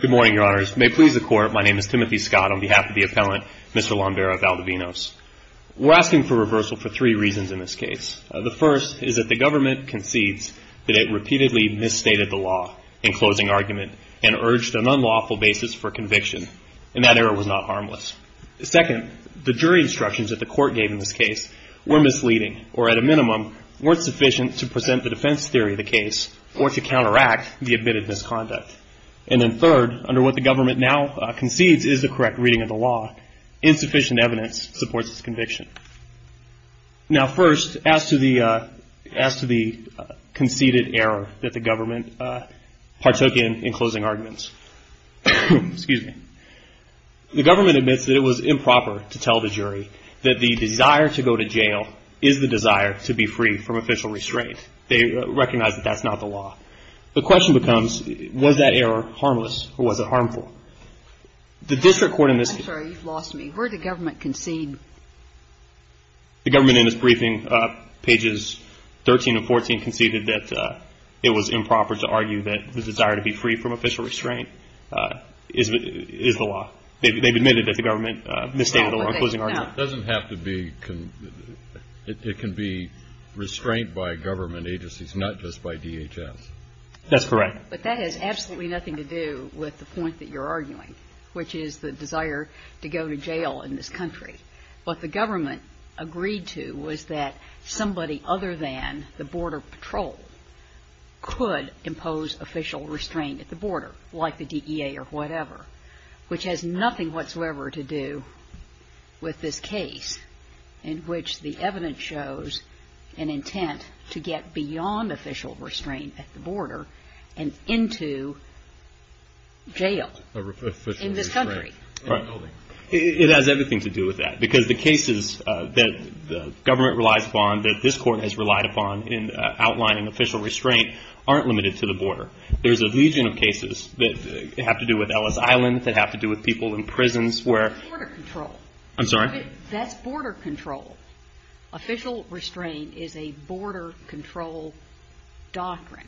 Good morning, your honors. May it please the court, my name is Timothy Scott on behalf of the appellant, Mr. Lombera-Valdovinos. We're asking for reversal for three reasons in this case. The first is that the government concedes that it repeatedly misstated the law in closing argument and urged an unlawful basis for conviction, and that error was not harmless. Second, the jury instructions that the court gave in this case were misleading or, at a minimum, weren't sufficient to present the defense theory of the case or to counteract the admitted misconduct. And then third, under what the government now concedes is the correct reading of the law, insufficient evidence supports its conviction. Now, first, as to the conceded error that the government partook in in closing arguments, the government admits that it was improper to tell the jury that the desire to go to jail is the desire to be free from official restraint. They recognize that that's not the law. The question becomes, was that error harmless or was it harmful? The district court in this case – I'm sorry, you've lost me. Where did the government concede? The government in its briefing, pages 13 and 14, conceded that it was improper to argue that the desire to be free from official restraint is the law. They've admitted that the government misstated the law in closing argument. It doesn't have to be – it can be restraint by government agencies, not just by DHS. That's correct. But that has absolutely nothing to do with the point that you're arguing, which is the desire to go to jail in this country. What the government agreed to was that somebody other than the Border Patrol could impose official restraint at the border, like the DEA or whatever, which has nothing whatsoever to do with this case, in which the evidence shows an intent to get beyond official restraint at the border and into jail in this country. It has everything to do with that, because the cases that the government relies upon, that this court has relied upon in outlining official restraint, aren't limited to the border. There's a legion of cases that have to do with Ellis Island, that have to do with people in prisons where – Border control. I'm sorry? That's border control. Official restraint is a border control doctrine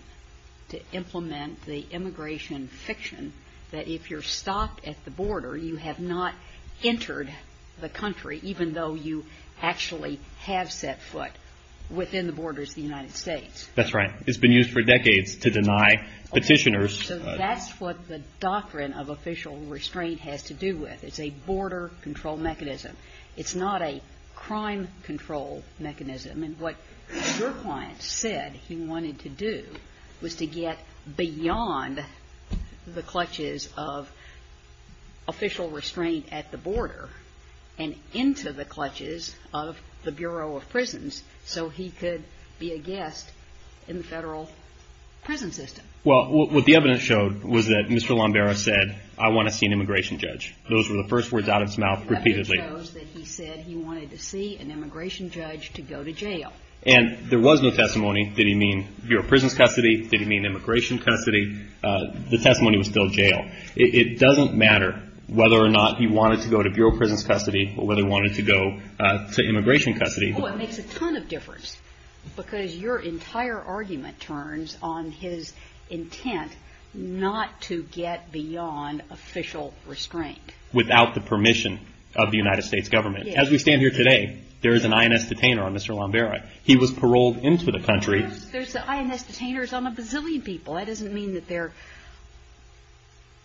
to implement the immigration fiction that if you're stopped at the border, you have not entered the country, even though you actually have set foot within the borders of the United States. That's right. It's been used for decades to deny petitioners. So that's what the doctrine of official restraint has to do with. It's a border control mechanism. It's not a crime control mechanism. And what your client said he wanted to do was to get beyond the clutches of official restraint at the border and into the clutches of the Bureau of Prisons so he could be a guest in the federal prison system. Well, what the evidence showed was that Mr. Lombero said, I want to see an immigration judge. Those were the first words out of his mouth repeatedly. The evidence shows that he said he wanted to see an immigration judge to go to jail. And there was no testimony. Did he mean Bureau of Prisons custody? Did he mean immigration custody? The testimony was still jail. It doesn't matter whether or not he wanted to go to Bureau of Prisons custody or whether he wanted to go to immigration custody. Oh, it makes a ton of difference because your entire argument turns on his intent not to get beyond official restraint. Without the permission of the United States government. As we stand here today, there is an INS detainer on Mr. Lombero. He was paroled into the country. There's INS detainers on a bazillion people. That doesn't mean that they're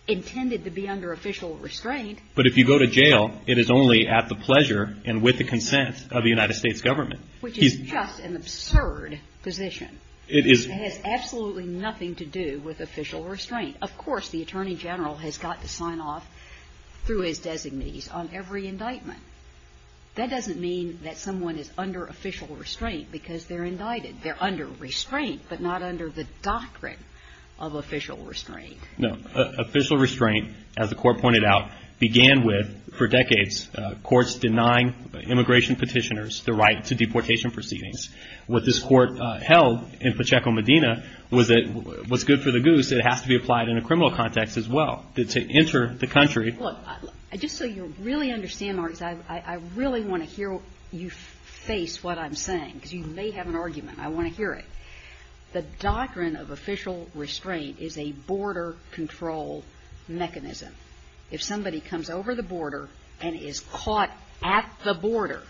intended to be under official restraint. But if you go to jail, it is only at the pleasure and with the consent of the United States government. Which is just an absurd position. It has absolutely nothing to do with official restraint. Of course, the Attorney General has got to sign off through his designees on every indictment. That doesn't mean that someone is under official restraint because they're indicted. They're under restraint, but not under the doctrine of official restraint. No, official restraint, as the Court pointed out, began with, for decades, courts denying immigration petitioners the right to deportation proceedings. What this Court held in Pacheco, Medina, was that what's good for the goose, it has to be applied in a criminal context as well to enter the country. Look, just so you really understand, I really want to hear you face what I'm saying. Because you may have an argument. I want to hear it. The doctrine of official restraint is a border control mechanism. If somebody comes over the border and is caught at the border,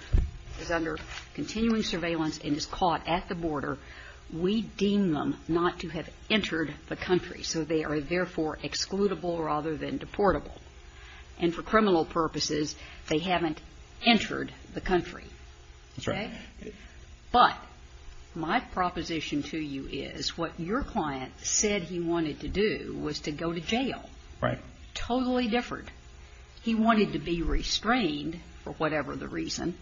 is under continuing surveillance and is caught at the border, we deem them not to have entered the country. So they are therefore excludable rather than deportable. And for criminal purposes, they haven't entered the country. That's right. But my proposition to you is what your client said he wanted to do was to go to jail. Right. Totally different. He wanted to be restrained for whatever the reason,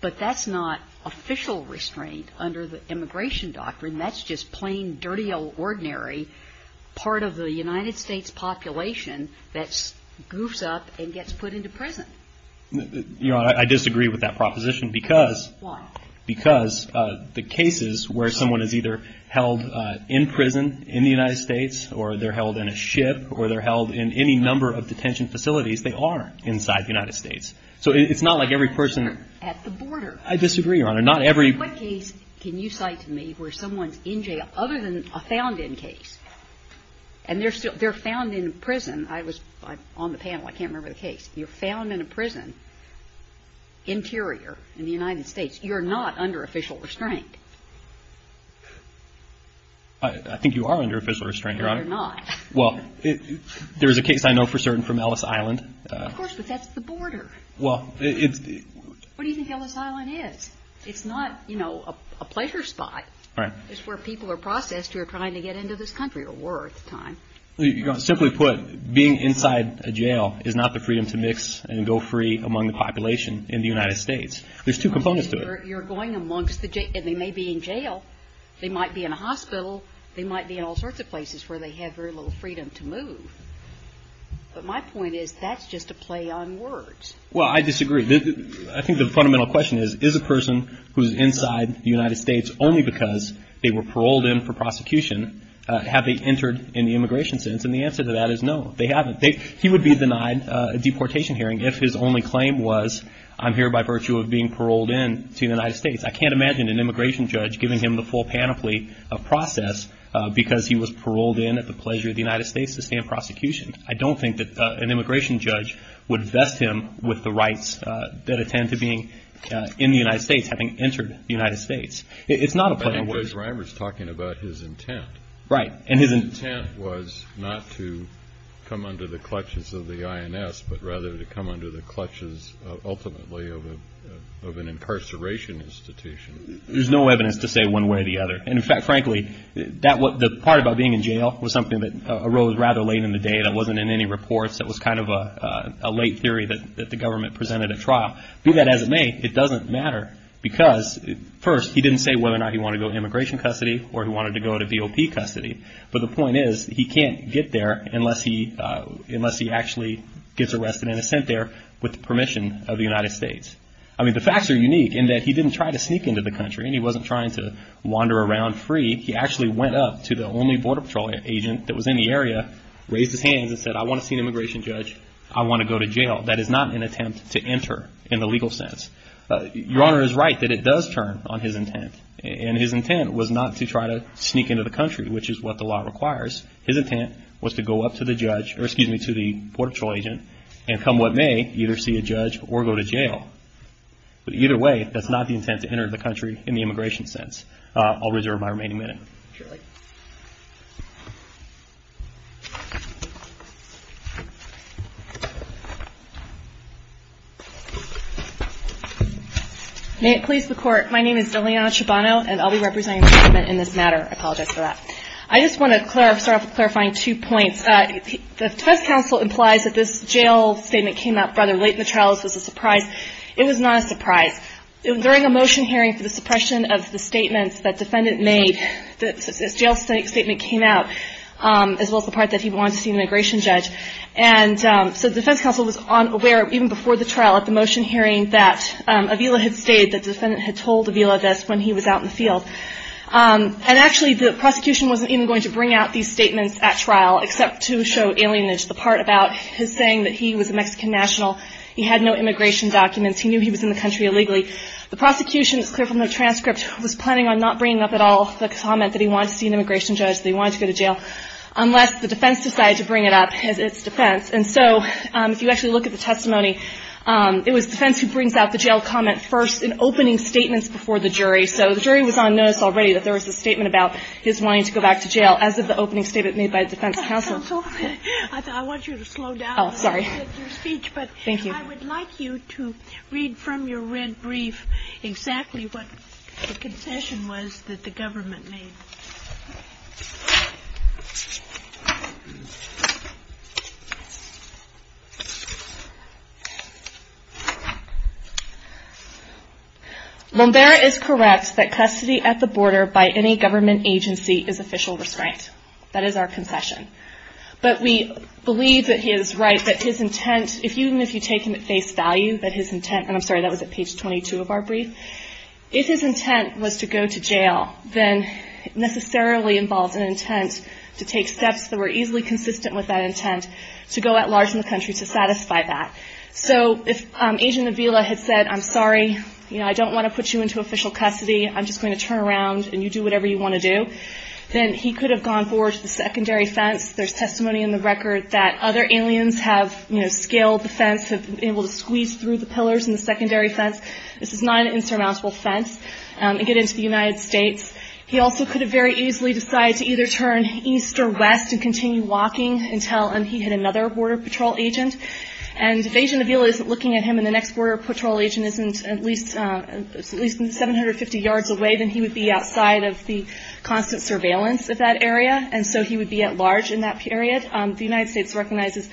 but that's not official restraint under the immigration doctrine. That's just plain, dirty, ordinary part of the United States population that goofs up and gets put into prison. Your Honor, I disagree with that proposition because... Why? Because the cases where someone is either held in prison in the United States or they're held in a ship or they're held in any number of detention facilities, they are inside the United States. So it's not like every person... At the border. I disagree, Your Honor. Not every... In what case can you cite to me where someone's in jail other than a found-in case? And they're found in prison. I was on the panel. I can't remember the case. You're found in a prison interior in the United States. You're not under official restraint. I think you are under official restraint, Your Honor. No, you're not. Well, there is a case I know for certain from Ellis Island. Of course, but that's the border. Well, it's... What do you think Ellis Island is? It's not, you know, a pleasure spot. Right. It's where people are processed who are trying to get into this country or were at the time. Simply put, being inside a jail is not the freedom to mix and go free among the population in the United States. There's two components to it. You're going amongst the... And they may be in jail. They might be in a hospital. They might be in all sorts of places where they have very little freedom to move. But my point is that's just a play on words. Well, I disagree. I think the fundamental question is, is a person who's inside the United States only because they were paroled in for prosecution, have they entered in the immigration sentence? And the answer to that is no, they haven't. He would be denied a deportation hearing if his only claim was, I'm here by virtue of being paroled in to the United States. I can't imagine an immigration judge giving him the full panoply of process because he was paroled in at the pleasure of the United States to stand prosecution. I don't think that an immigration judge would vest him with the rights that attend to being in the United States, having entered the United States. It's not a play on words. Judge Reimer's talking about his intent. Right. And his intent was not to come under the clutches of the INS, but rather to come under the clutches ultimately of an incarceration institution. There's no evidence to say one way or the other. And in fact, frankly, the part about being in jail was something that arose rather late in the day. That wasn't in any reports. That was kind of a late theory that the government presented a trial. Be that as it may, it doesn't matter because first, he didn't say whether or not he wanted to go to immigration custody or he wanted to go to VOP custody. But the point is, he can't get there unless he actually gets arrested and sent there with the permission of the United States. I mean, the facts are unique in that he didn't try to sneak into the country and he wasn't trying to wander around free. He actually went up to the only border patrol agent that was in the area, raised his hands and said, I want to see an immigration judge. I want to go to jail. That is not an attempt to enter in the legal sense. Your Honor is right that it does turn on his intent. And his intent was not to try to sneak into the country, which is what the law requires. His intent was to go up to the judge, or excuse me, to the border patrol agent and come what may, either see a judge or go to jail. But either way, that's not the intent to enter the country in the immigration sense. I'll reserve my remaining minute. Surely. May it please the Court. My name is Deliana Chobano and I'll be representing the government in this matter. I apologize for that. I just want to start off with clarifying two points. The test counsel implies that this jail statement came out rather late in the trial. This was a surprise. It was not a surprise. During a motion hearing for the suppression of the statements that the defendant made, this jail statement came out, as well as the part that he wanted to see an immigration judge. And so the defense counsel was unaware, even before the trial, at the motion hearing, that Avila had stayed, that the defendant had told Avila this when he was out in the field. And actually, the prosecution wasn't even going to bring out these statements at trial, except to show alienage. The part about his saying that he was a Mexican national, he had no immigration documents, he knew he was in the country illegally. The prosecution, it's clear from the transcript, was planning on not bringing up at all the comment that he wanted to see an immigration judge, that he wanted to go to jail, unless the defense decided to bring it up as its defense. And so if you actually look at the testimony, it was defense who brings out the jail comment first in opening statements before the jury. So the jury was on notice already that there was a statement about his wanting to go back to jail, as of the opening statement made by defense counsel. Counsel, I want you to slow down. Oh, sorry. I appreciate your speech, but I would like you to read from your red brief exactly what the concession was that the government made. Lombero is correct that custody at the border by any government agency is official restraint. That is our concession. But we believe that he is right, that his intent, even if you take him at face value, that his intent, and I'm sorry, that was at page 22 of our brief, if his intent was to go to jail, then it necessarily involves an intent to take steps that were easily consistent with that intent to go at large in the country to satisfy that. So if Agent Avila had said, I'm sorry, I don't want to put you into official custody, I'm just going to turn around and you do whatever you want to do, then he could have gone forward to the secondary fence. There's testimony in the record that other aliens have scaled the fence, have been able to squeeze through the pillars in the secondary fence. This is not an insurmountable fence to get into the United States. He also could have very easily decided to either turn east or west and continue walking until he hit another border patrol agent. And if Agent Avila isn't looking at him and the next border patrol agent isn't at least 750 yards away, then he would be outside of the constant surveillance of that area. And so he would be at large in that period. The United States recognizes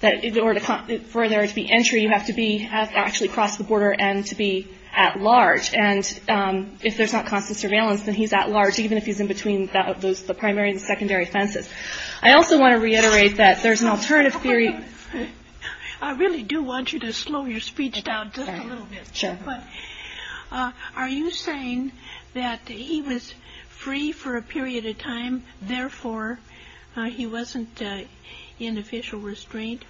that in order for there to be entry, you have to actually cross the border and to be at large. And if there's not constant surveillance, then he's at large, even if he's in between the primary and secondary fences. I also want to reiterate that there's an alternative theory. I really do want you to slow your speech down just a little bit. Sure. Are you saying that he was free for a period of time, therefore he wasn't in official restraint?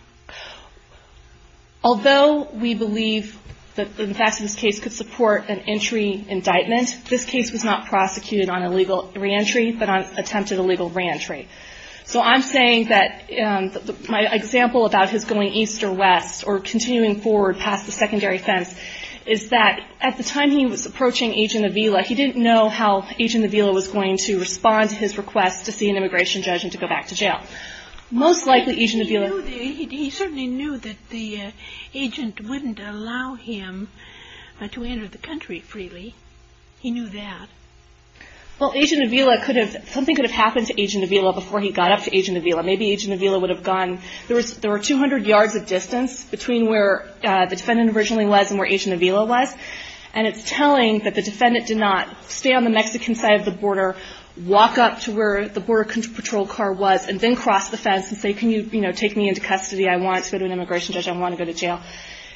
Although we believe that the facts of this case could support an entry indictment, this case was not prosecuted on illegal reentry, but on attempted illegal reentry. So I'm saying that my example about his going east or west or continuing forward past the secondary fence is that at the time he was approaching Agent Avila, he didn't know how Agent Avila was going to respond to his request to see an immigration judge and to go back to jail. He certainly knew that the agent wouldn't allow him to enter the country freely. He knew that. Well, something could have happened to Agent Avila before he got up to Agent Avila. There were 200 yards of distance between where the defendant originally was and where Agent Avila was, and it's telling that the defendant did not stay on the Mexican side of the border, walk up to where the border patrol car was, and then cross the fence and say, can you take me into custody? I want to go to an immigration judge. I want to go to jail.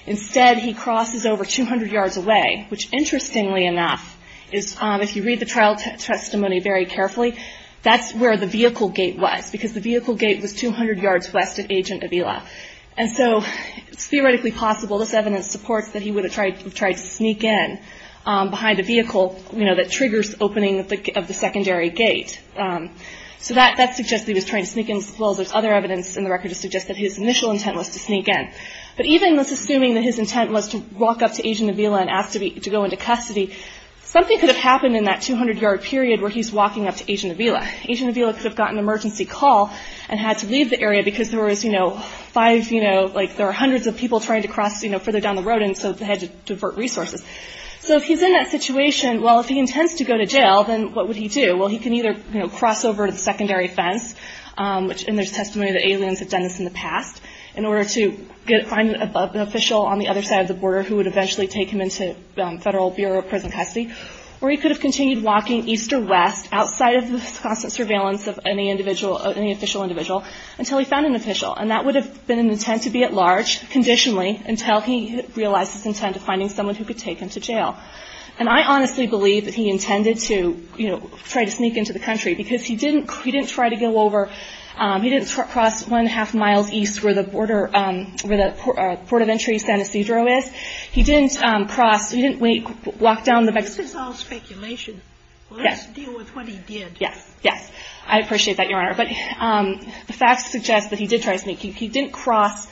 Instead, he crosses over 200 yards away, which, interestingly enough, if you read the trial testimony very carefully, that's where the vehicle gate was, because the vehicle gate was 200 yards west of Agent Avila. And so it's theoretically possible, this evidence supports that he would have tried to sneak in behind the vehicle that triggers the opening of the secondary gate. So that suggests that he was trying to sneak in, as well as there's other evidence in the record that suggests that his initial intent was to sneak in. But even assuming that his intent was to walk up to Agent Avila and ask to go into custody, something could have happened in that 200-yard period where he's walking up to Agent Avila. Agent Avila could have gotten an emergency call and had to leave the area because there were hundreds of people trying to cross further down the road, and so they had to divert resources. So if he's in that situation, well, if he intends to go to jail, then what would he do? Well, he can either cross over to the secondary fence, which in there's testimony that aliens have done this in the past, in order to find an official on the other side of the border who would eventually take him into Federal Bureau of Prison Custody, or he could have continued walking east or west outside of the constant surveillance of any individual, any official individual, until he found an official. And that would have been an intent to be at large, conditionally, until he realized his intent of finding someone who could take him to jail. And I honestly believe that he intended to, you know, try to sneak into the country because he didn't try to go over, he didn't cross one-and-a-half miles east where the border, where the Port of Entry San Ysidro is, he didn't cross, he didn't walk down the back... This is all speculation. Yes. Let's deal with what he did. Yes, yes. I appreciate that, Your Honor. But the facts suggest that he did try to sneak. He didn't cross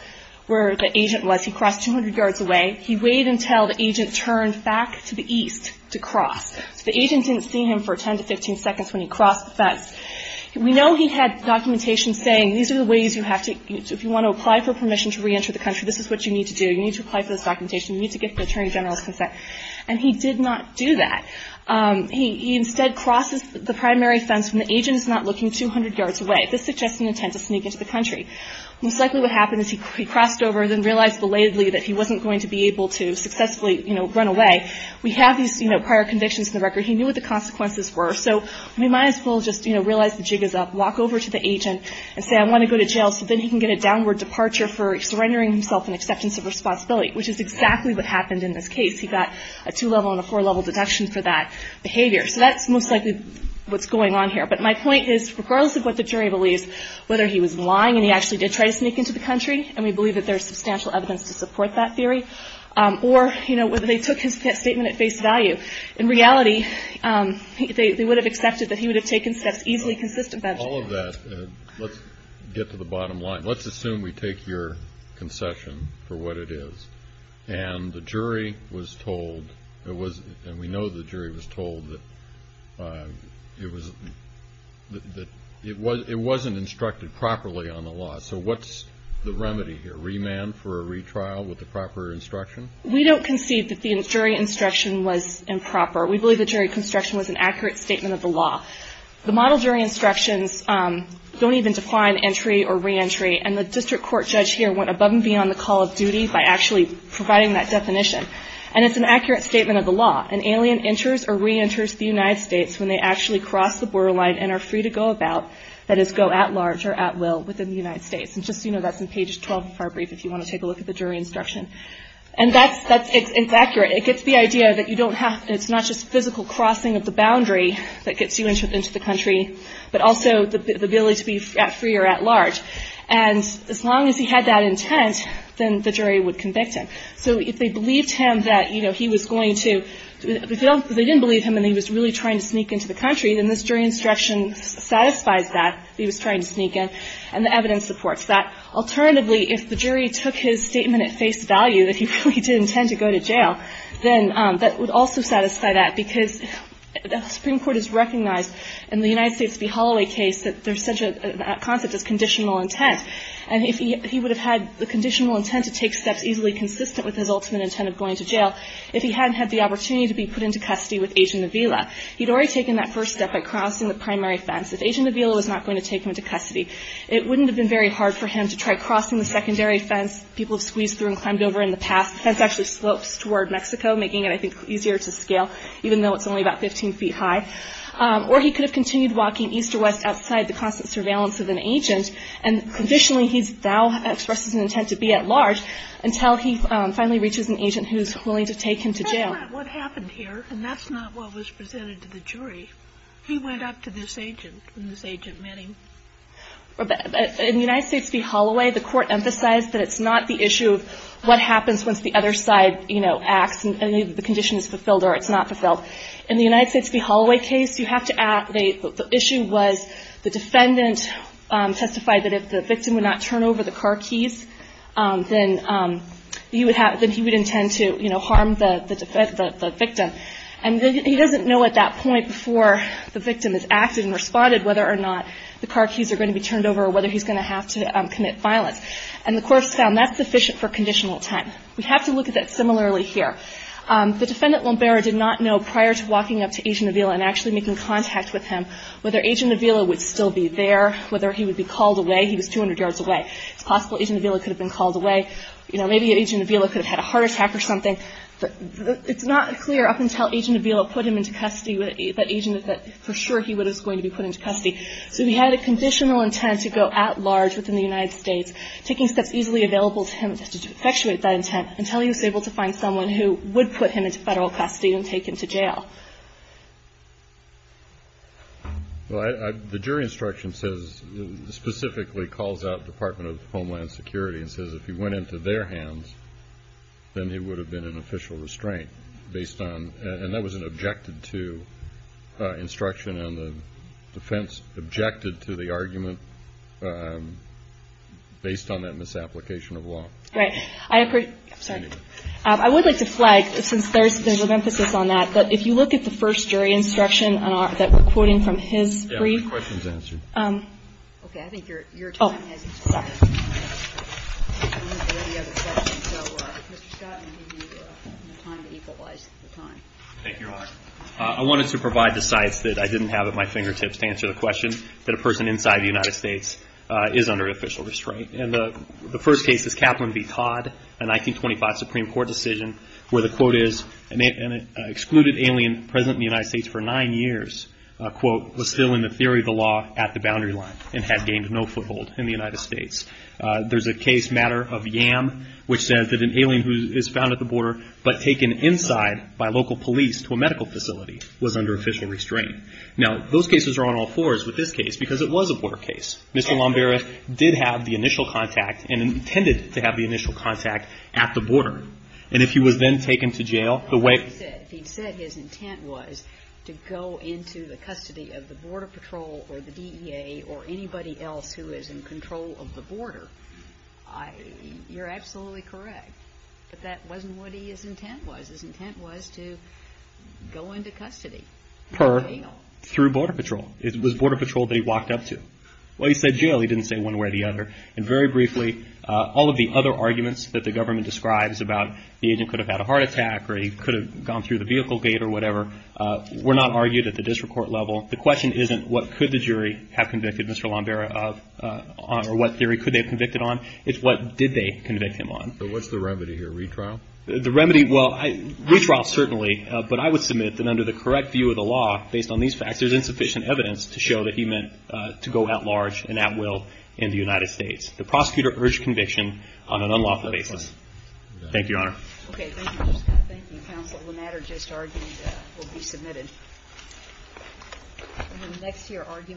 where the agent was. He crossed 200 yards away. He waited until the agent turned back to the east to cross. So the agent didn't see him for 10 to 15 seconds when he crossed the fence. We know he had documentation saying, these are the ways you have to, if you want to apply for permission to re-enter the country, this is what you need to do. You need to apply for this documentation. You need to get the Attorney General's consent. And he did not do that. He instead crosses the primary fence when the agent is not looking 200 yards away. This suggests an intent to sneak into the country. Most likely what happened is he crossed over and then realized belatedly that he wasn't going to be able to successfully run away. We have these prior convictions in the record. He knew what the consequences were. So we might as well just realize the jig is up, walk over to the agent and say, I want to go to jail, so then he can get a downward departure for surrendering himself in acceptance of responsibility, which is exactly what happened in this case. He got a two-level and a four-level deduction for that behavior. So that's most likely what's going on here. But my point is, regardless of what the jury believes, whether he was lying and he actually did try to sneak into the country, and we believe that there's substantial evidence to support that theory, or whether they took his statement at face value, in reality, they would have accepted that he would have taken steps easily consistent with that. All of that, and let's get to the bottom line. Let's assume we take your concession for what it is, and the jury was told, and we know the jury was told, that it wasn't instructed properly on the law. So what's the remedy here? Remand for a retrial with the proper instruction? We don't concede that the jury instruction was improper. We believe the jury construction was an accurate statement of the law. The model jury instructions don't even define entry or re-entry, and the district court judge here went above and beyond the call of duty by actually providing that definition. And it's an accurate statement of the law. An alien enters or re-enters the United States when they actually cross the borderline and are free to go about, that is, go at large or at will, within the United States. And just so you know, that's in page 12 of our brief, if you want to take a look at the jury instruction. And that's, it's accurate. It gets the idea that you don't have, it's not just physical crossing of the boundary that gets you into the country, but also the ability to be at free or at large. And as long as he had that intent, then the jury would convict him. So if they believed him that, you know, he was going to, if they didn't believe him and he was really trying to sneak into the country, then this jury instruction satisfies that, he was trying to sneak in, and the evidence supports that. Alternatively, if the jury took his statement at face value, then that would also satisfy that, because the Supreme Court has recognized in the United States v. Holloway case that there's such a concept as conditional intent. And if he would have had the conditional intent to take steps easily consistent with his ultimate intent of going to jail, if he hadn't had the opportunity to be put into custody with Agent Avila, he'd already taken that first step by crossing the primary fence. If Agent Avila was not going to take him into custody, it wouldn't have been very hard for him to try crossing the secondary fence. People have squeezed through and climbed over in the past. That's actually slopes toward Mexico, making it, I think, easier to scale, even though it's only about 15 feet high. Or he could have continued walking east or west outside the constant surveillance of an agent, and conditionally he now expresses an intent to be at large, until he finally reaches an agent who's willing to take him to jail. But that's not what happened here, and that's not what was presented to the jury. He went up to this agent, and this agent met him. In the United States v. Holloway, the Court emphasized that it's not the issue of what happens once the other side, you know, acts, and the condition is fulfilled or it's not fulfilled. In the United States v. Holloway case, you have to add the issue was the defendant testified that if the victim would not turn over the car keys, then he would intend to, you know, harm the victim. And he doesn't know at that point before the victim has acted and responded, whether or not the car keys are going to be turned over, or whether he's going to have to commit violence. And the Court found that's sufficient for conditional time. We have to look at that similarly here. The defendant, Lombera, did not know prior to walking up to Agent Avila and actually making contact with him whether Agent Avila would still be there, whether he would be called away. He was 200 yards away. It's possible Agent Avila could have been called away. You know, maybe Agent Avila could have had a heart attack or something. It's not clear up until Agent Avila put him into custody that for sure he was going to be put into custody. So he had a conditional intent to go at large within the United States, taking steps easily available to him to effectuate that intent, until he was able to find someone who would put him into federal custody and take him to jail. Well, the jury instruction says, specifically calls out Department of Homeland Security and says if he went into their hands, then it would have been an official restraint, based on, and that was an objected to instruction and the defense objected to the argument based on that misapplication of law. Right. I would like to flag, since there's an emphasis on that, that if you look at the first jury instruction that we're quoting from his brief. Yeah, we have questions answered. Thank you, Your Honor. I wanted to provide the sites that I didn't have at my fingertips to answer the question that a person inside the United States is under official restraint. And the first case is Kaplan v. Todd. A 1925 Supreme Court decision, where the quote is, an excluded alien present in the United States for nine years, quote, was still in the theory of the law at the boundary line and had gained no foothold in the United States. There's a case matter of Yam, which says that an alien who is found at the border, but taken inside by local police to a medical facility, was under official restraint. Now, those cases are on all fours with this case because it was a border case. Mr. Lombera did have the initial contact and intended to have the initial contact at the border. And if he was then taken to jail, the way... He said his intent was to go into the custody of the Border Patrol or the DEA or anybody else who is in control of the border. You're absolutely correct. But that wasn't what his intent was. His intent was to go into custody. Per? Through Border Patrol. It was Border Patrol that he walked up to. Well, he said jail. He didn't say one way or the other. And very briefly, all of the other arguments that the government describes about the agent could have had a heart attack or he could have gone through the vehicle gate or whatever were not argued at the district court level. The question isn't what could the jury have convicted Mr. Lombera of or what theory could they have convicted on. It's what did they convict him on. So what's the remedy here? Retrial? The remedy... Well, retrial certainly. But I would submit that under the correct view of the law, based on these facts, there's insufficient evidence to show that he meant to go at large and at will in the United States. The prosecutor urged conviction on an unlawful basis. Thank you, Your Honor. Okay. Thank you. Thank you, Counsel. The matter just argued will be submitted. Thank you. Thank you. Thank you. Thank you. Thank you. Thank you. Thank you. Thank you. Thank you.